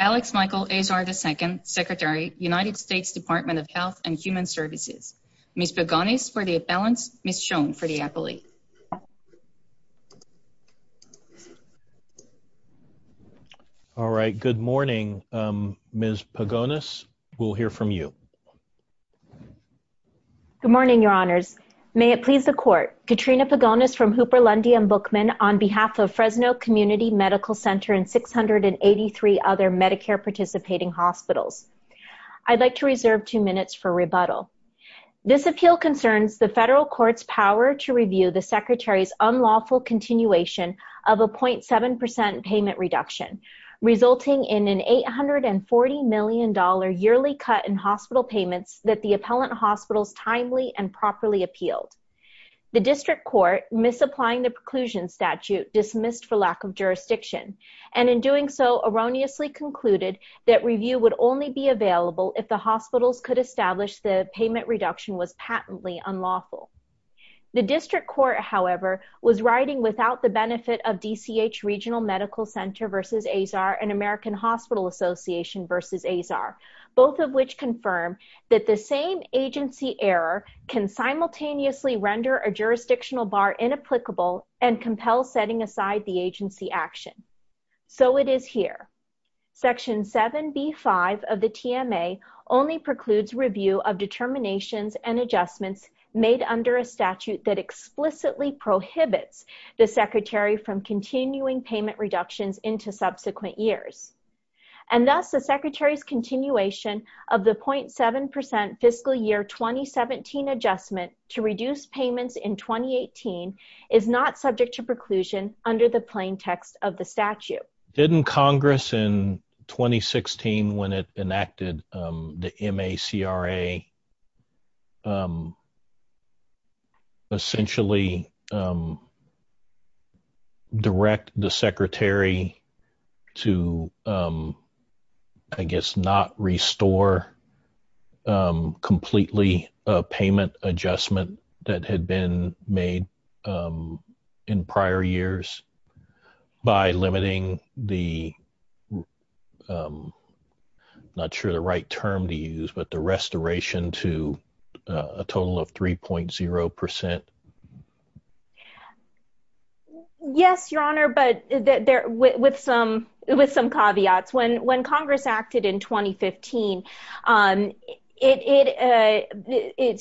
Alex Michael Azar, II, Secretary, United States Department of Health and Human Services Ms. Paganis for the appellants, Ms. Schoen for the appellate Good morning, Ms. Paganis. We'll hear from you. Good morning, Your Honors. May it please the Court, Katrina Paganis from Hooper-Lundy and Bookman on behalf of Fresno Community Medical Center and 683 other Medicare participating hospitals. I'd like to reserve two minutes for rebuttal. This appeal concerns the federal court's power to review the Secretary's unlawful continuation of a 0.7% payment reduction, resulting in an $840 million yearly cut in hospital payments that the appellant hospitals timely and properly appealed. The district court, misapplying the preclusion statute dismissed for lack of jurisdiction, and in doing so erroneously concluded that review would only be available if the hospitals could establish the payment reduction was patently unlawful. The district court, however, was writing without the benefit of DCH Regional Medical Center v. Azar and American Hospital Association v. Azar, both of which confirm that the same agency error can simultaneously render a jurisdictional bar inapplicable and compel setting aside the agency action. So it is here. Section 7B.5 of the TMA only precludes review of determinations and adjustments made under a statute that explicitly prohibits the Secretary from continuing payment reductions into subsequent years. And thus, the Secretary's continuation of the 0.7% fiscal year 2017 adjustment to reduce payments in 2018 is not subject to preclusion under the plain text of the statute. Didn't Congress in 2016, when it enacted the MACRA, essentially direct the Secretary to, I guess, not restore completely payment adjustment that had been made in prior years? By limiting the, I'm not sure the right term to use, but the restoration to a total of 3.0%? Yes, Your Honor, but with some caveats. When Congress acted in 2015,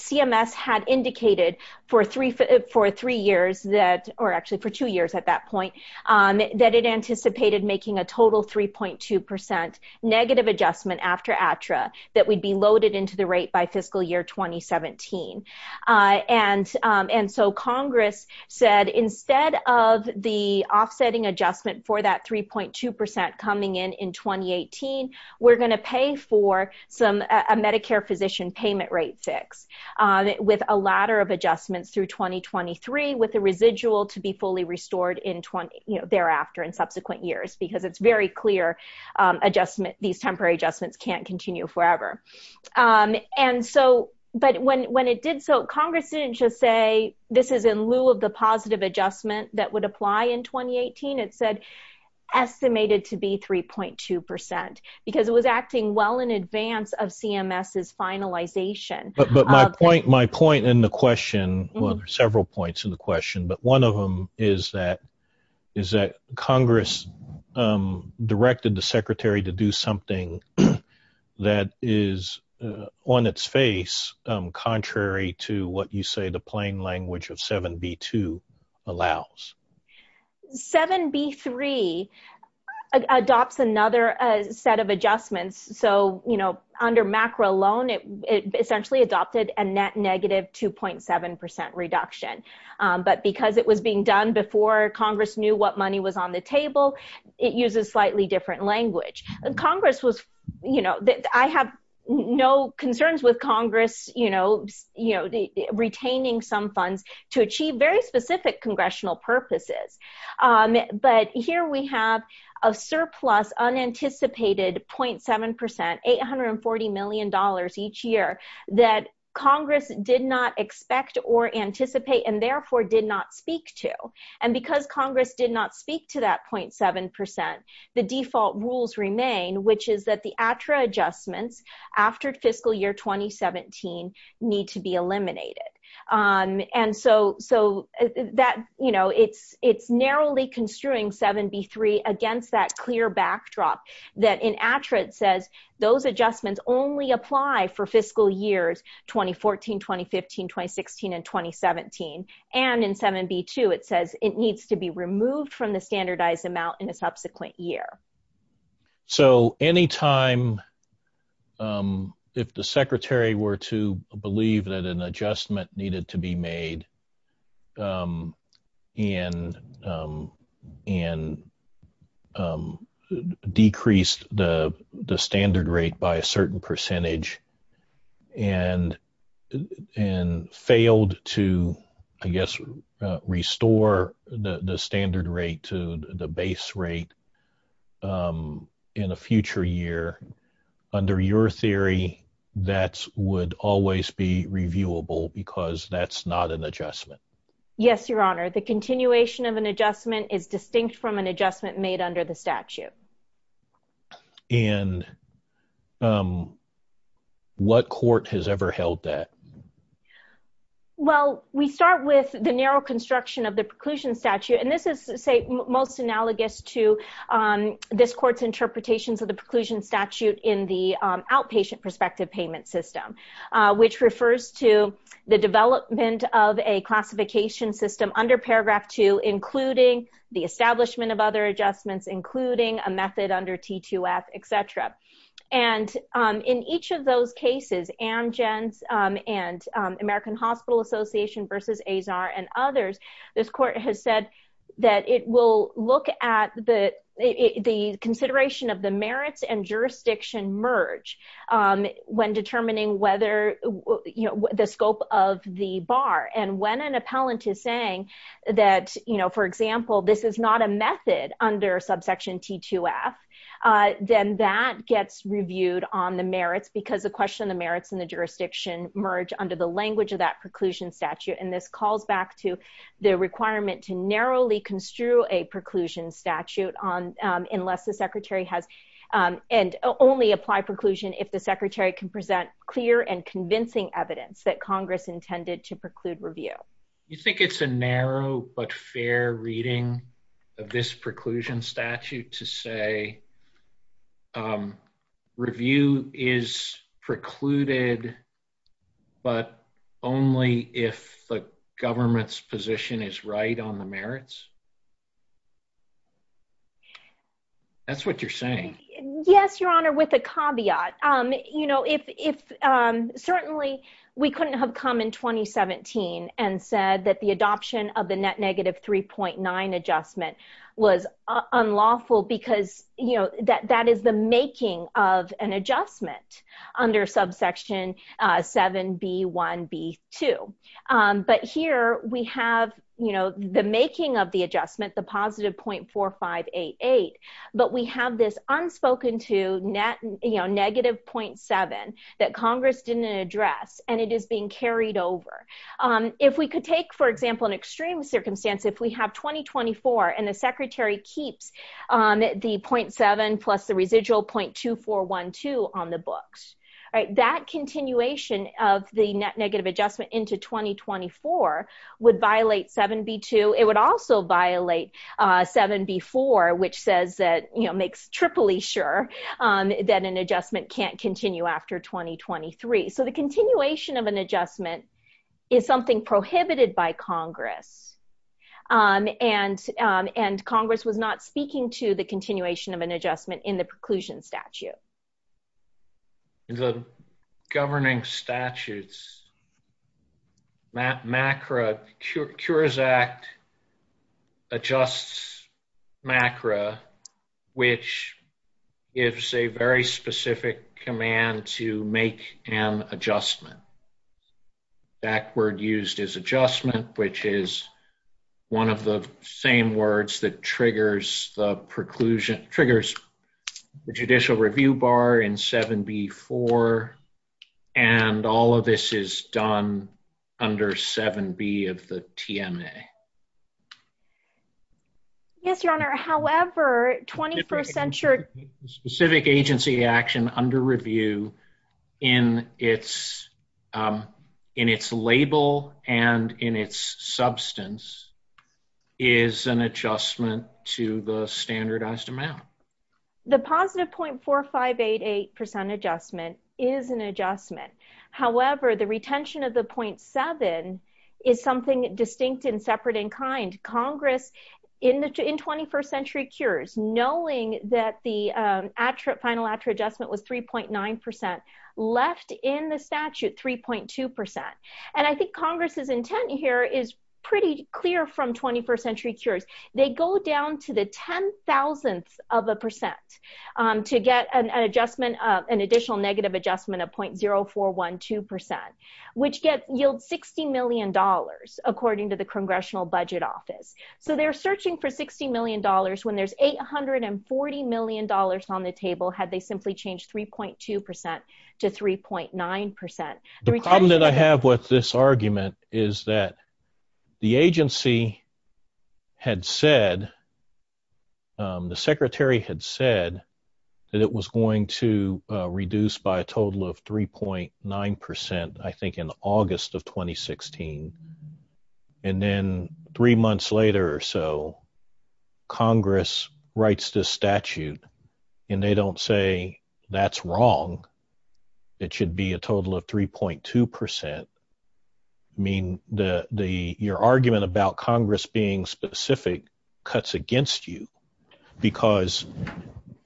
CMS had indicated for three years that, or actually for two years at that point, that it anticipated making a total 3.2% negative adjustment after ATRA that would be loaded into the rate by fiscal year 2017. And so Congress said, instead of the offsetting adjustment for that 3.2% coming in in 2018, we're going to pay for a Medicare physician payment rate fix with a ladder of adjustments through 2023 with a residual to be fully restored thereafter in subsequent years, because it's very clear these temporary adjustments can't continue forever. And so, but when it did so, Congress didn't just say this is in lieu of the positive adjustment that would apply in 2018. It said estimated to be 3.2% because it was acting well in advance of CMS's finalization. But my point in the question, well, there are several points in the question, but one of them is that Congress directed the Secretary to do something that is on its face, contrary to what you say the plain language of 7B2 allows. 7B3 adopts another set of adjustments. So, you know, under MACRA alone, it essentially adopted a net negative 2.7% reduction. But because it was being done before Congress knew what money was on the table, it uses slightly different language. Congress was, you know, I have no concerns with Congress, you know, retaining some funds to achieve very specific congressional purposes. But here we have a surplus unanticipated 0.7%, $840 million each year that Congress did not expect or anticipate and therefore did not speak to. And because Congress did not speak to that 0.7%, the default rules remain, which is that the ATRA adjustments after fiscal year 2017 need to be eliminated. And so that, you know, it's narrowly construing 7B3 against that clear backdrop that in ATRA it says those adjustments only apply for fiscal years 2014, 2015, 2016, and 2017. And in 7B2 it says it needs to be removed from the standardized amount in a subsequent year. So any time if the Secretary were to believe that an adjustment needed to be made and decreased the standard rate by a certain percentage and failed to, I guess, restore the standard rate to the base rate, in a future year, under your theory, that would always be reviewable because that's not an adjustment. Yes, Your Honor. The continuation of an adjustment is distinct from an adjustment made under the statute. And what court has ever held that? Well, we start with the narrow construction of the preclusion statute. And this is, say, most analogous to this court's interpretations of the preclusion statute in the outpatient prospective payment system, which refers to the development of a classification system under Paragraph 2, including the establishment of other adjustments, including a method under T2F, etc. And in each of those cases, Amgen's and American Hospital Association versus Azar and others, this court has said that it will look at the consideration of the merits and jurisdiction merge when determining the scope of the bar. And when an appellant is saying that, for example, this is not a method under subsection T2F, then that gets reviewed on the merits because the question of the merits and the jurisdiction merge under the language of that preclusion statute. And this calls back to the requirement to narrowly construe a preclusion statute unless the secretary has and only apply preclusion if the secretary can present clear and convincing evidence that Congress intended to preclude review. You think it's a narrow but fair reading of this preclusion statute to say review is precluded, but only if the government's position is right on the merits? That's what you're saying. Yes, Your Honor, with a caveat. You know, if certainly we couldn't have come in 2017 and said that the adoption of the net negative 3.9 adjustment was unlawful because, you know, that is the making of an adjustment under subsection 7B1B2. But here we have, you know, the making of the adjustment, the positive .4588, but we have this unspoken to net, you know, negative .7 that Congress didn't address and it is being carried over. If we could take, for example, an extreme circumstance, if we have 2024 and the secretary keeps the .7 plus the residual .2412 on the books, right, that continuation of the net negative adjustment into 2024 would violate 7B2. Is something prohibited by Congress? And Congress was not speaking to the continuation of an adjustment in the preclusion statute. In the governing statutes, MACRA, Cures Act adjusts MACRA, which gives a very specific command to make an adjustment. That word used is adjustment, which is one of the same words that triggers the preclusion, triggers the judicial review bar in 7B4. And all of this is done under 7B of the TMA. Yes, Your Honor, however, 21st Century Specific agency action under review in its label and in its substance is an adjustment to the standardized amount. The positive .4588% adjustment is an adjustment. However, the retention of the .7 is something distinct and separate in kind. Congress, in 21st Century Cures, knowing that the final ACRA adjustment was 3.9%, left in the statute 3.2%. And I think Congress's intent here is pretty clear from 21st Century Cures. They go down to the 10,000th of a percent to get an adjustment, an additional negative adjustment of .0412%, which yields $60 million, according to the Congressional Budget Office. So they're searching for $60 million when there's $840 million on the table had they simply changed 3.2% to 3.9%. The problem that I have with this argument is that the agency had said, the secretary had said that it was going to reduce by a total of 3.9%, I think, in August of 2016. And then three months later or so, Congress writes this statute, and they don't say that's wrong. It should be a total of 3.2%. I mean, your argument about Congress being specific cuts against you. Because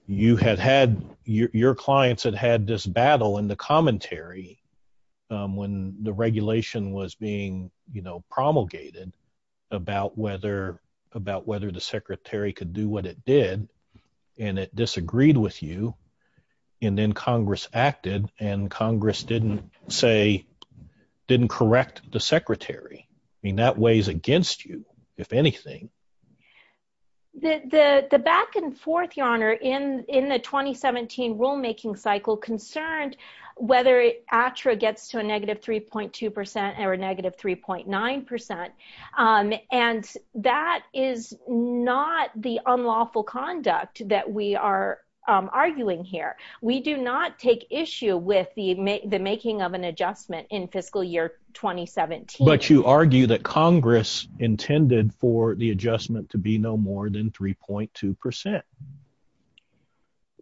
your clients had had this battle in the commentary when the regulation was being promulgated about whether the secretary could do what it did, and it disagreed with you. And then Congress acted, and Congress didn't correct the secretary. I mean, that weighs against you, if anything. The back and forth, Your Honor, in the 2017 rulemaking cycle concerned whether ATRA gets to a negative 3.2% or a negative 3.9%. And that is not the unlawful conduct that we are arguing here. We do not take issue with the making of an adjustment in fiscal year 2017. But you argue that Congress intended for the adjustment to be no more than 3.2%.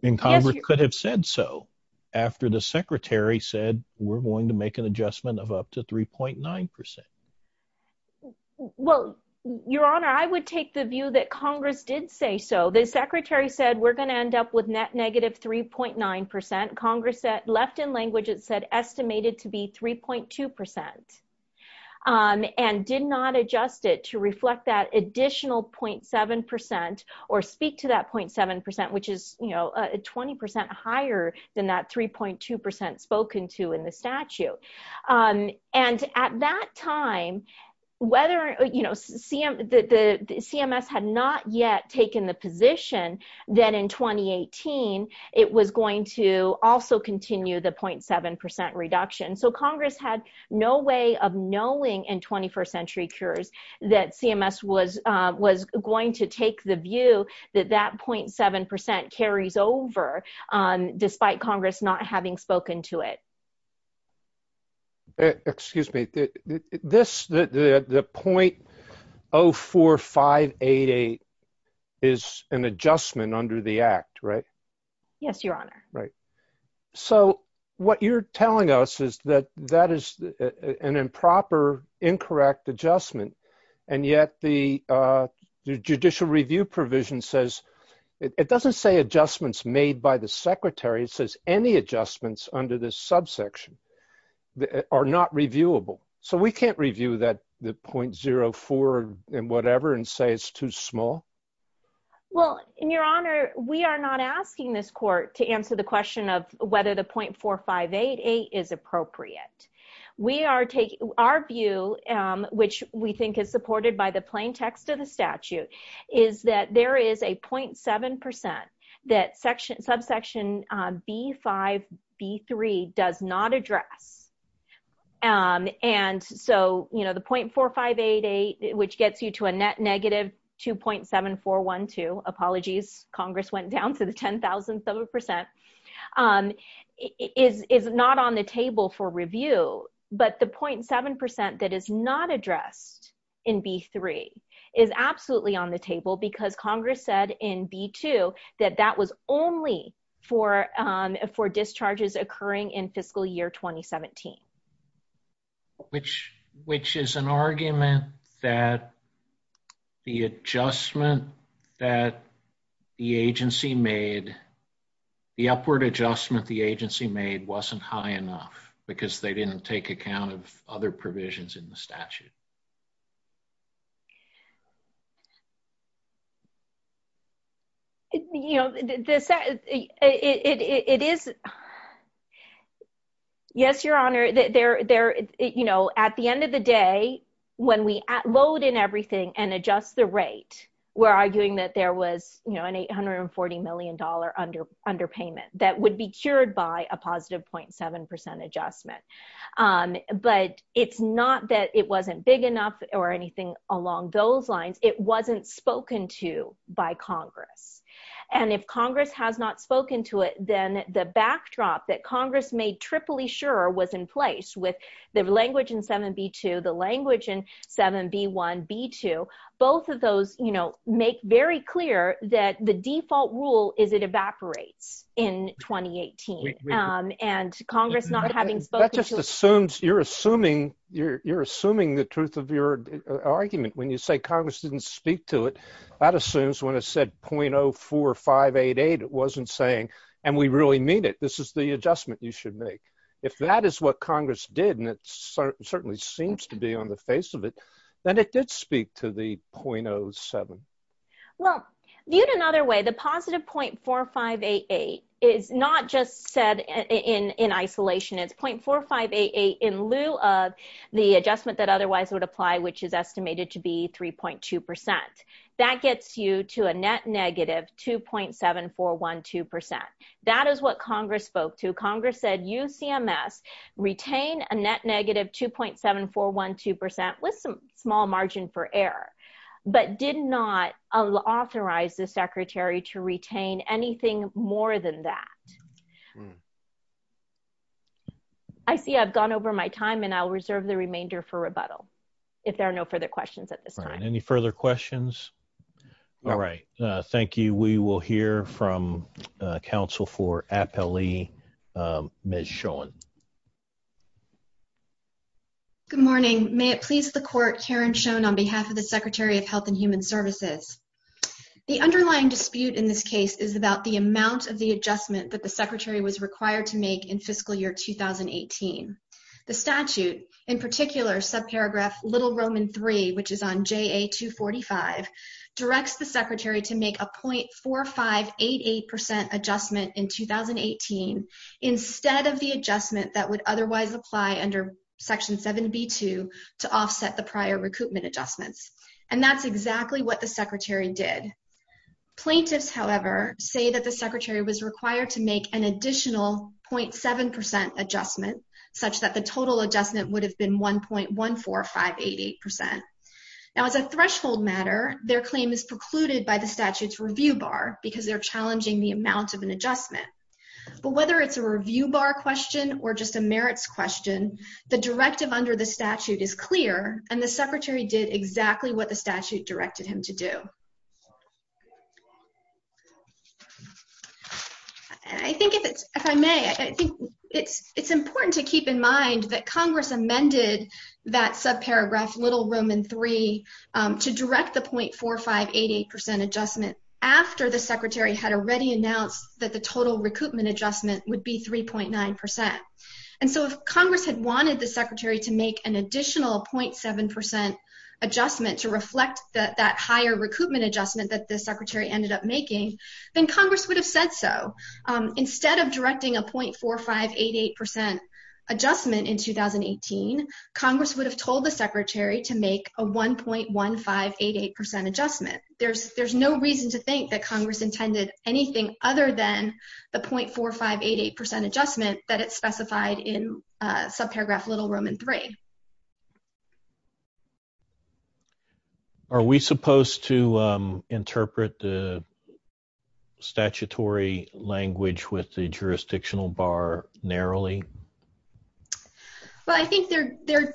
And Congress could have said so after the secretary said, we're going to make an adjustment of up to 3.9%. Well, Your Honor, I would take the view that Congress did say so. The secretary said, we're going to end up with net negative 3.9%. Congress left in language, it said, estimated to be 3.2%. And did not adjust it to reflect that additional 0.7% or speak to that 0.7%, which is 20% higher than that 3.2% spoken to in the statute. And at that time, CMS had not yet taken the position that in 2018, it was going to also continue the 0.7% reduction. So Congress had no way of knowing in 21st century cures that CMS was going to take the view that that 0.7% carries over, despite Congress not having spoken to it. Excuse me, this, the 0.04588 is an adjustment under the act, right? Yes, Your Honor. So what you're telling us is that that is an improper incorrect adjustment. And yet the judicial review provision says it doesn't say adjustments made by the secretary says any adjustments under this subsection that are not reviewable. So we can't review that the point 04 and whatever and say it's too small. Well, Your Honor, we are not asking this court to answer the question of whether the 0.4588 is appropriate. We are taking our view, which we think is supported by the plain text of the statute is that there is a 0.7% that section subsection B5B3 does not address. And so, you know, the 0.4588, which gets you to a net negative 2.7412 apologies, Congress went down to the 10,000th of a percent is not on the table for review, but the 0.7% that is not addressed in B3 is absolutely on the table because Congress said in B2 that that was only for for discharges occurring in fiscal year 2017. Which, which is an argument that the adjustment that the agency made the upward adjustment the agency made wasn't high enough because they didn't take account of other provisions in the statute. You know, this is Yes, Your Honor, there, you know, at the end of the day, when we load in everything and adjust the rate, we're arguing that there was, you know, an $840 million under underpayment that would be cured by a positive 0.7% adjustment. But it's not that it wasn't big enough or anything along those lines. It wasn't spoken to by Congress. And if Congress has not spoken to it, then the backdrop that Congress made Tripoli sure was in place with the language in 7B2, the language in 7B1, B2, both of those, you know, make very clear that the default rule is it evaporates in 2018 And Congress not having spoken That just assumes you're assuming you're assuming the truth of your argument when you say Congress didn't speak to it. That assumes when I said .04588 wasn't saying, and we really mean it. This is the adjustment, you should make. If that is what Congress did and it certainly seems to be on the face of it, then it did speak to the .07 Well, viewed another way, the positive .4588 is not just said in isolation, it's .4588 in lieu of the adjustment that otherwise would apply, which is estimated to be 3.2%. That gets you to a net negative 2.7412%. That is what Congress spoke to Congress said UCMS retain a net negative 2.7412% with some small margin for error, but did not authorize the Secretary to retain anything more than that. I see I've gone over my time and I'll reserve the remainder for rebuttal. If there are no further questions at this time. Any further questions. All right. Thank you. We will hear from Council for Appellee Ms. Schoen Good morning. May it please the court, Karen Schoen on behalf of the Secretary of Health and Human Services. The underlying dispute in this case is about the amount of the adjustment that the Secretary was required to make in fiscal year 2018 The statute, in particular, subparagraph little Roman three, which is on ja 245 directs the Secretary to make a .4588% adjustment in 2018 instead of the adjustment that would otherwise apply under section 7B2 to offset the prior recoupment adjustments. And that's exactly what the Secretary did. Plaintiffs, however, say that the Secretary was required to make an additional .7% adjustment such that the total adjustment would have been 1.14588% Now as a threshold matter, their claim is precluded by the statutes review bar because they're challenging the amount of an adjustment. But whether it's a review bar question or just a merits question, the directive under the statute is clear and the Secretary did exactly what the statute directed him to do. I think if it's if I may, I think it's it's important to keep in mind that Congress amended that subparagraph little Roman three To direct the .4588% adjustment after the Secretary had already announced that the total recoupment adjustment would be 3.9% And so if Congress had wanted the Secretary to make an additional .7% adjustment to reflect that that higher recoupment adjustment that the Secretary ended up making, then Congress would have said so. Instead of directing a .4588% adjustment in 2018 Congress would have told the Secretary to make a 1.1588% adjustment. There's, there's no reason to think that Congress intended anything other than the .4588% adjustment that it specified in subparagraph little Roman three Are we supposed to interpret the statutory language with the jurisdictional bar narrowly? Well, I think there, there,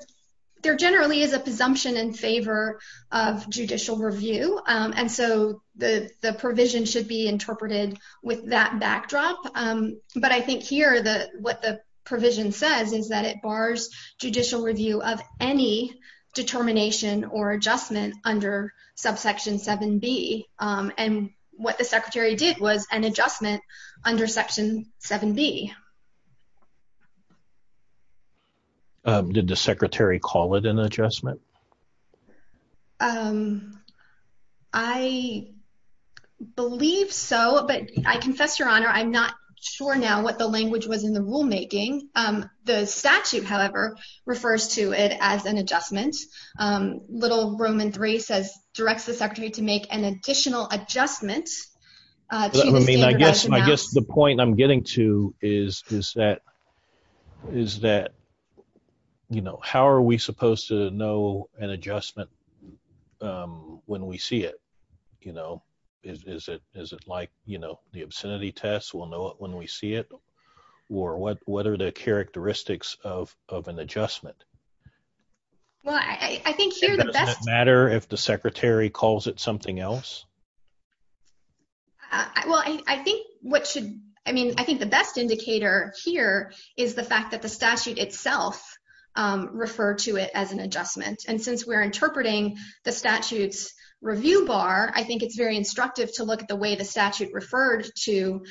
there generally is a presumption in favor of judicial review. And so the, the provision should be interpreted with that backdrop. But I think here the what the provision says is that it bars judicial review of any determination or adjustment under subsection 7B and what the Secretary did was an adjustment under section 7B. Did the Secretary call it an adjustment? Um, I believe so. But I confess, Your Honor, I'm not sure now what the language was in the rulemaking. The statute, however, refers to it as an adjustment little Roman three says directs the Secretary to make an additional adjustment. I mean, I guess, I guess the point I'm getting to is, is that, is that You know, how are we supposed to know an adjustment. When we see it, you know, is it, is it like, you know, the obscenity tests will know when we see it or what, what are the characteristics of of an adjustment. Well, I think here the best Matter if the Secretary calls it something else. Well, I think what should, I mean, I think the best indicator here is the fact that the statute itself refer to it as an adjustment. And since we're interpreting the statutes review bar. I think it's very instructive to look at the way the statute referred to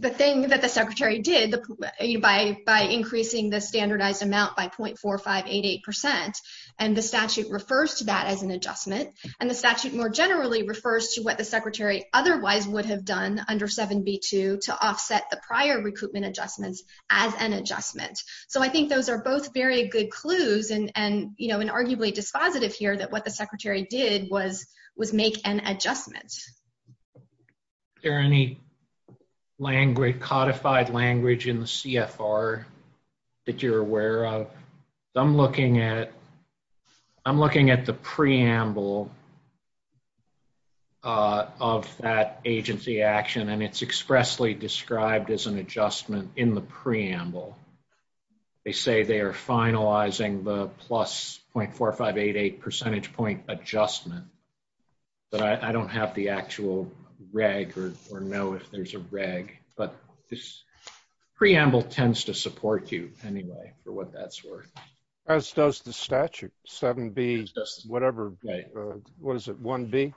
The thing that the Secretary did the by by increasing the standardized amount by point four or 588% And the statute refers to that as an adjustment and the statute more generally refers to what the Secretary otherwise would have done under 7b to to offset the prior recruitment adjustments as an adjustment. So I think those are both very good clues and and you know and arguably dispositive here that what the Secretary did was was make an adjustment. There any language codified language in the CFR that you're aware of. I'm looking at I'm looking at the preamble Of that agency action and it's expressly described as an adjustment in the preamble They say they are finalizing the plus point four or 588 percentage point adjustment, but I don't have the actual reg or or know if there's a reg, but this preamble tends to support you anyway for what that's worth. As does the statute 7b whatever Was it one be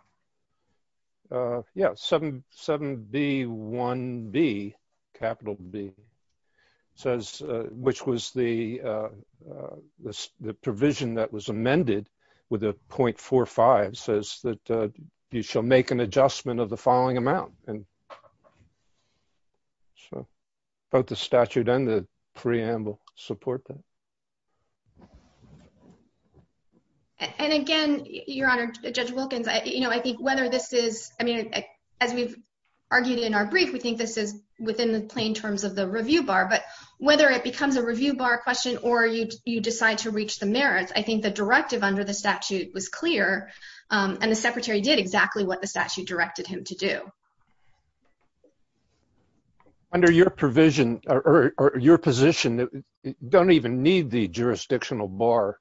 Yeah 77 be one be capital B says, which was the This the provision that was amended with a point four or five says that you shall make an adjustment of the following amount and So both the statute and the preamble support that And again, Your Honor, Judge Wilkins, I, you know, I think whether this is, I mean, as we've Argued in our brief. We think this is within the plain terms of the review bar, but whether it becomes a review bar question or you you decide to reach the merits. I think the directive under the statute was clear and the Secretary did exactly what the statute directed him to do. Under your provision or your position that don't even need the jurisdictional bar.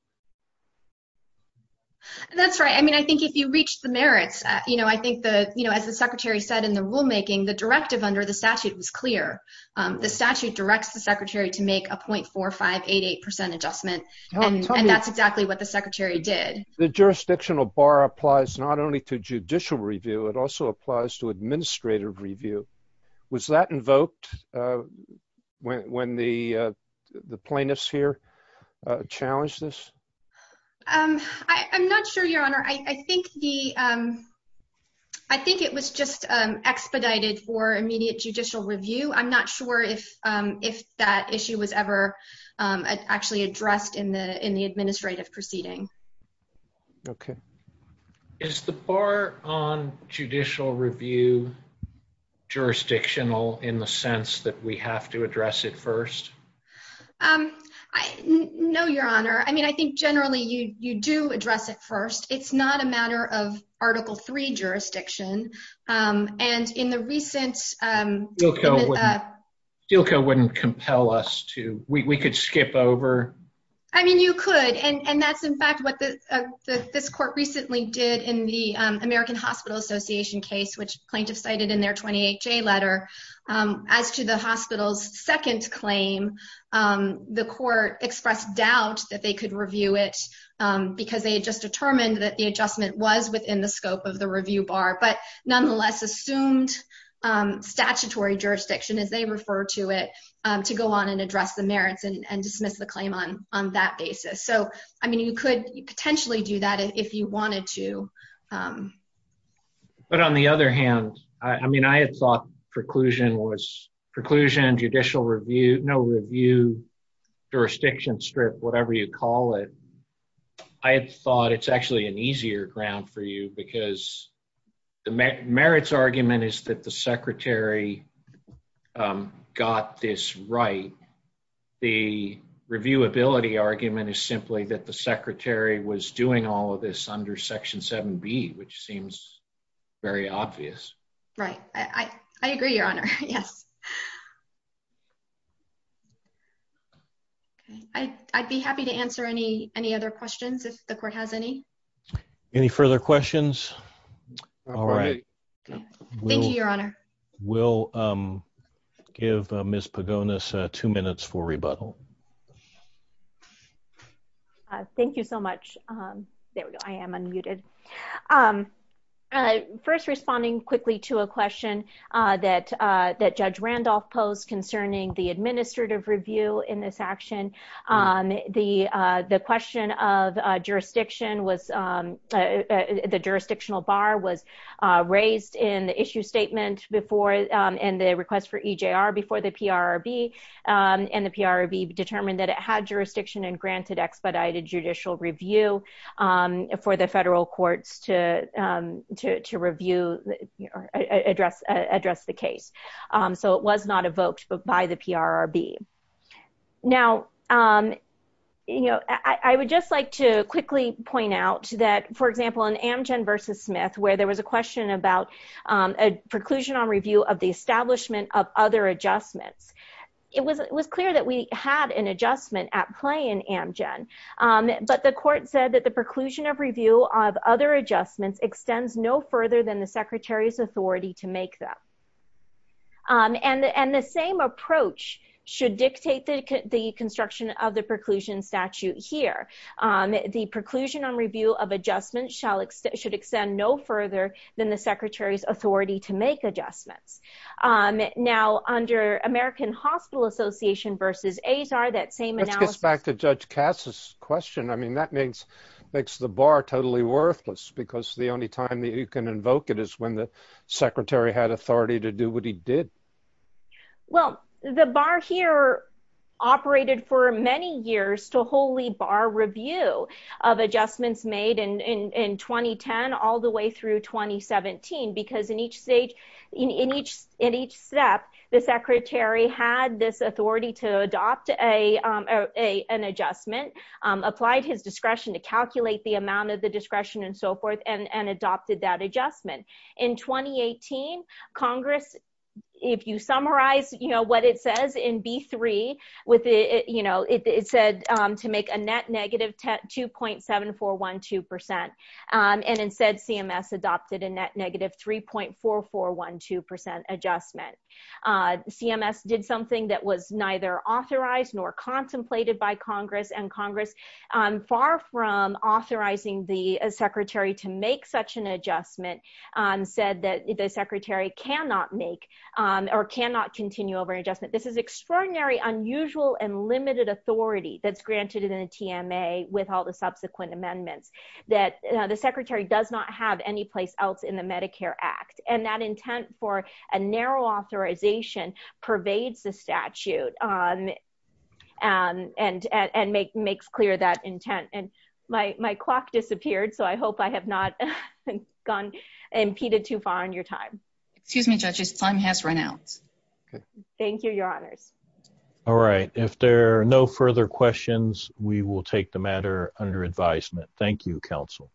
That's right. I mean, I think if you reach the merits, you know, I think the, you know, as the Secretary said in the rulemaking the directive under the statute was clear. The statute directs the Secretary to make a point four or 588% adjustment and that's exactly what the Secretary did The jurisdictional bar applies not only to judicial review. It also applies to administrative review was that invoked When the, the plaintiffs here challenge this I'm not sure, Your Honor, I think the I think it was just expedited for immediate judicial review. I'm not sure if if that issue was ever actually addressed in the in the administrative proceeding. Okay. Is the bar on judicial review jurisdictional in the sense that we have to address it first. I know, Your Honor. I mean, I think generally you you do address it first. It's not a matter of Article three jurisdiction and in the recent You'll go wouldn't compel us to we could skip over I mean, you could. And that's in fact what the this court recently did in the American Hospital Association case which plaintiffs cited in their 28 J letter. As to the hospital's second claim the court expressed doubt that they could review it because they just determined that the adjustment was within the scope of the review bar, but nonetheless assumed statutory jurisdiction as they refer to it to go on and address the merits and dismiss the claim on on that basis. So, I mean, you could potentially do that if you wanted to. But on the other hand, I mean, I had thought preclusion was preclusion judicial review no review jurisdiction strip, whatever you call it. I thought it's actually an easier ground for you because the merits argument is that the Secretary Got this right. The review ability argument is simply that the Secretary was doing all of this under Section seven be which seems very obvious. Right, I, I agree, Your Honor. Yes. I'd be happy to answer any, any other questions if the court has any Any further questions. All right. Thank you, Your Honor. Will Give Miss Pagonas two minutes for rebuttal. Thank you so much. There I am unmuted. I first responding quickly to a question that that judge Randolph post concerning the administrative review in this action on the, the question of jurisdiction was The jurisdictional bar was raised in the issue statement before and the request for EJ are before the PR be and the PR be determined that it had jurisdiction and granted expedited judicial review. For the federal courts to to review address address the case. So it was not evoked by the PR be now. You know, I would just like to quickly point out that, for example, an Amgen versus Smith, where there was a question about A preclusion on review of the establishment of other adjustments. It was, it was clear that we had an adjustment at play in Amgen But the court said that the preclusion of review of other adjustments extends no further than the Secretary's authority to make them And and the same approach should dictate that the construction of the preclusion statute here. The preclusion on review of adjustment shall extend should extend no further than the Secretary's authority to make adjustments on it now under American Hospital Association versus as are that same Back to judge Cass's question. I mean, that means makes the bar totally worthless, because the only time that you can invoke it is when the Secretary had authority to do what he did. Well, the bar here operated for many years to wholly bar review of adjustments made in 2010 all the way through 2017 because in each stage. In each in each step the Secretary had this authority to adopt a an adjustment applied his discretion to calculate the amount of the discretion and so forth and adopted that adjustment in 2018 Congress. If you summarize, you know what it says in B3 with it, you know, it said to make a net negative 2.7412% and instead CMS adopted a net negative 3.4412% adjustment. CMS did something that was neither authorized nor contemplated by Congress and Congress far from authorizing the Secretary to make such an adjustment. Said that the Secretary cannot make or cannot continue over adjustment. This is extraordinary unusual and limited authority that's granted in a TMA with all the subsequent amendments. That the Secretary does not have any place else in the Medicare Act and that intent for a narrow authorization pervades the statute on And and and make makes clear that intent and my my clock disappeared. So I hope I have not gone impeded too far on your time. Excuse me, judges time has run out. Thank you, Your Honors. All right. If there are no further questions, we will take the matter under advisement. Thank you, counsel.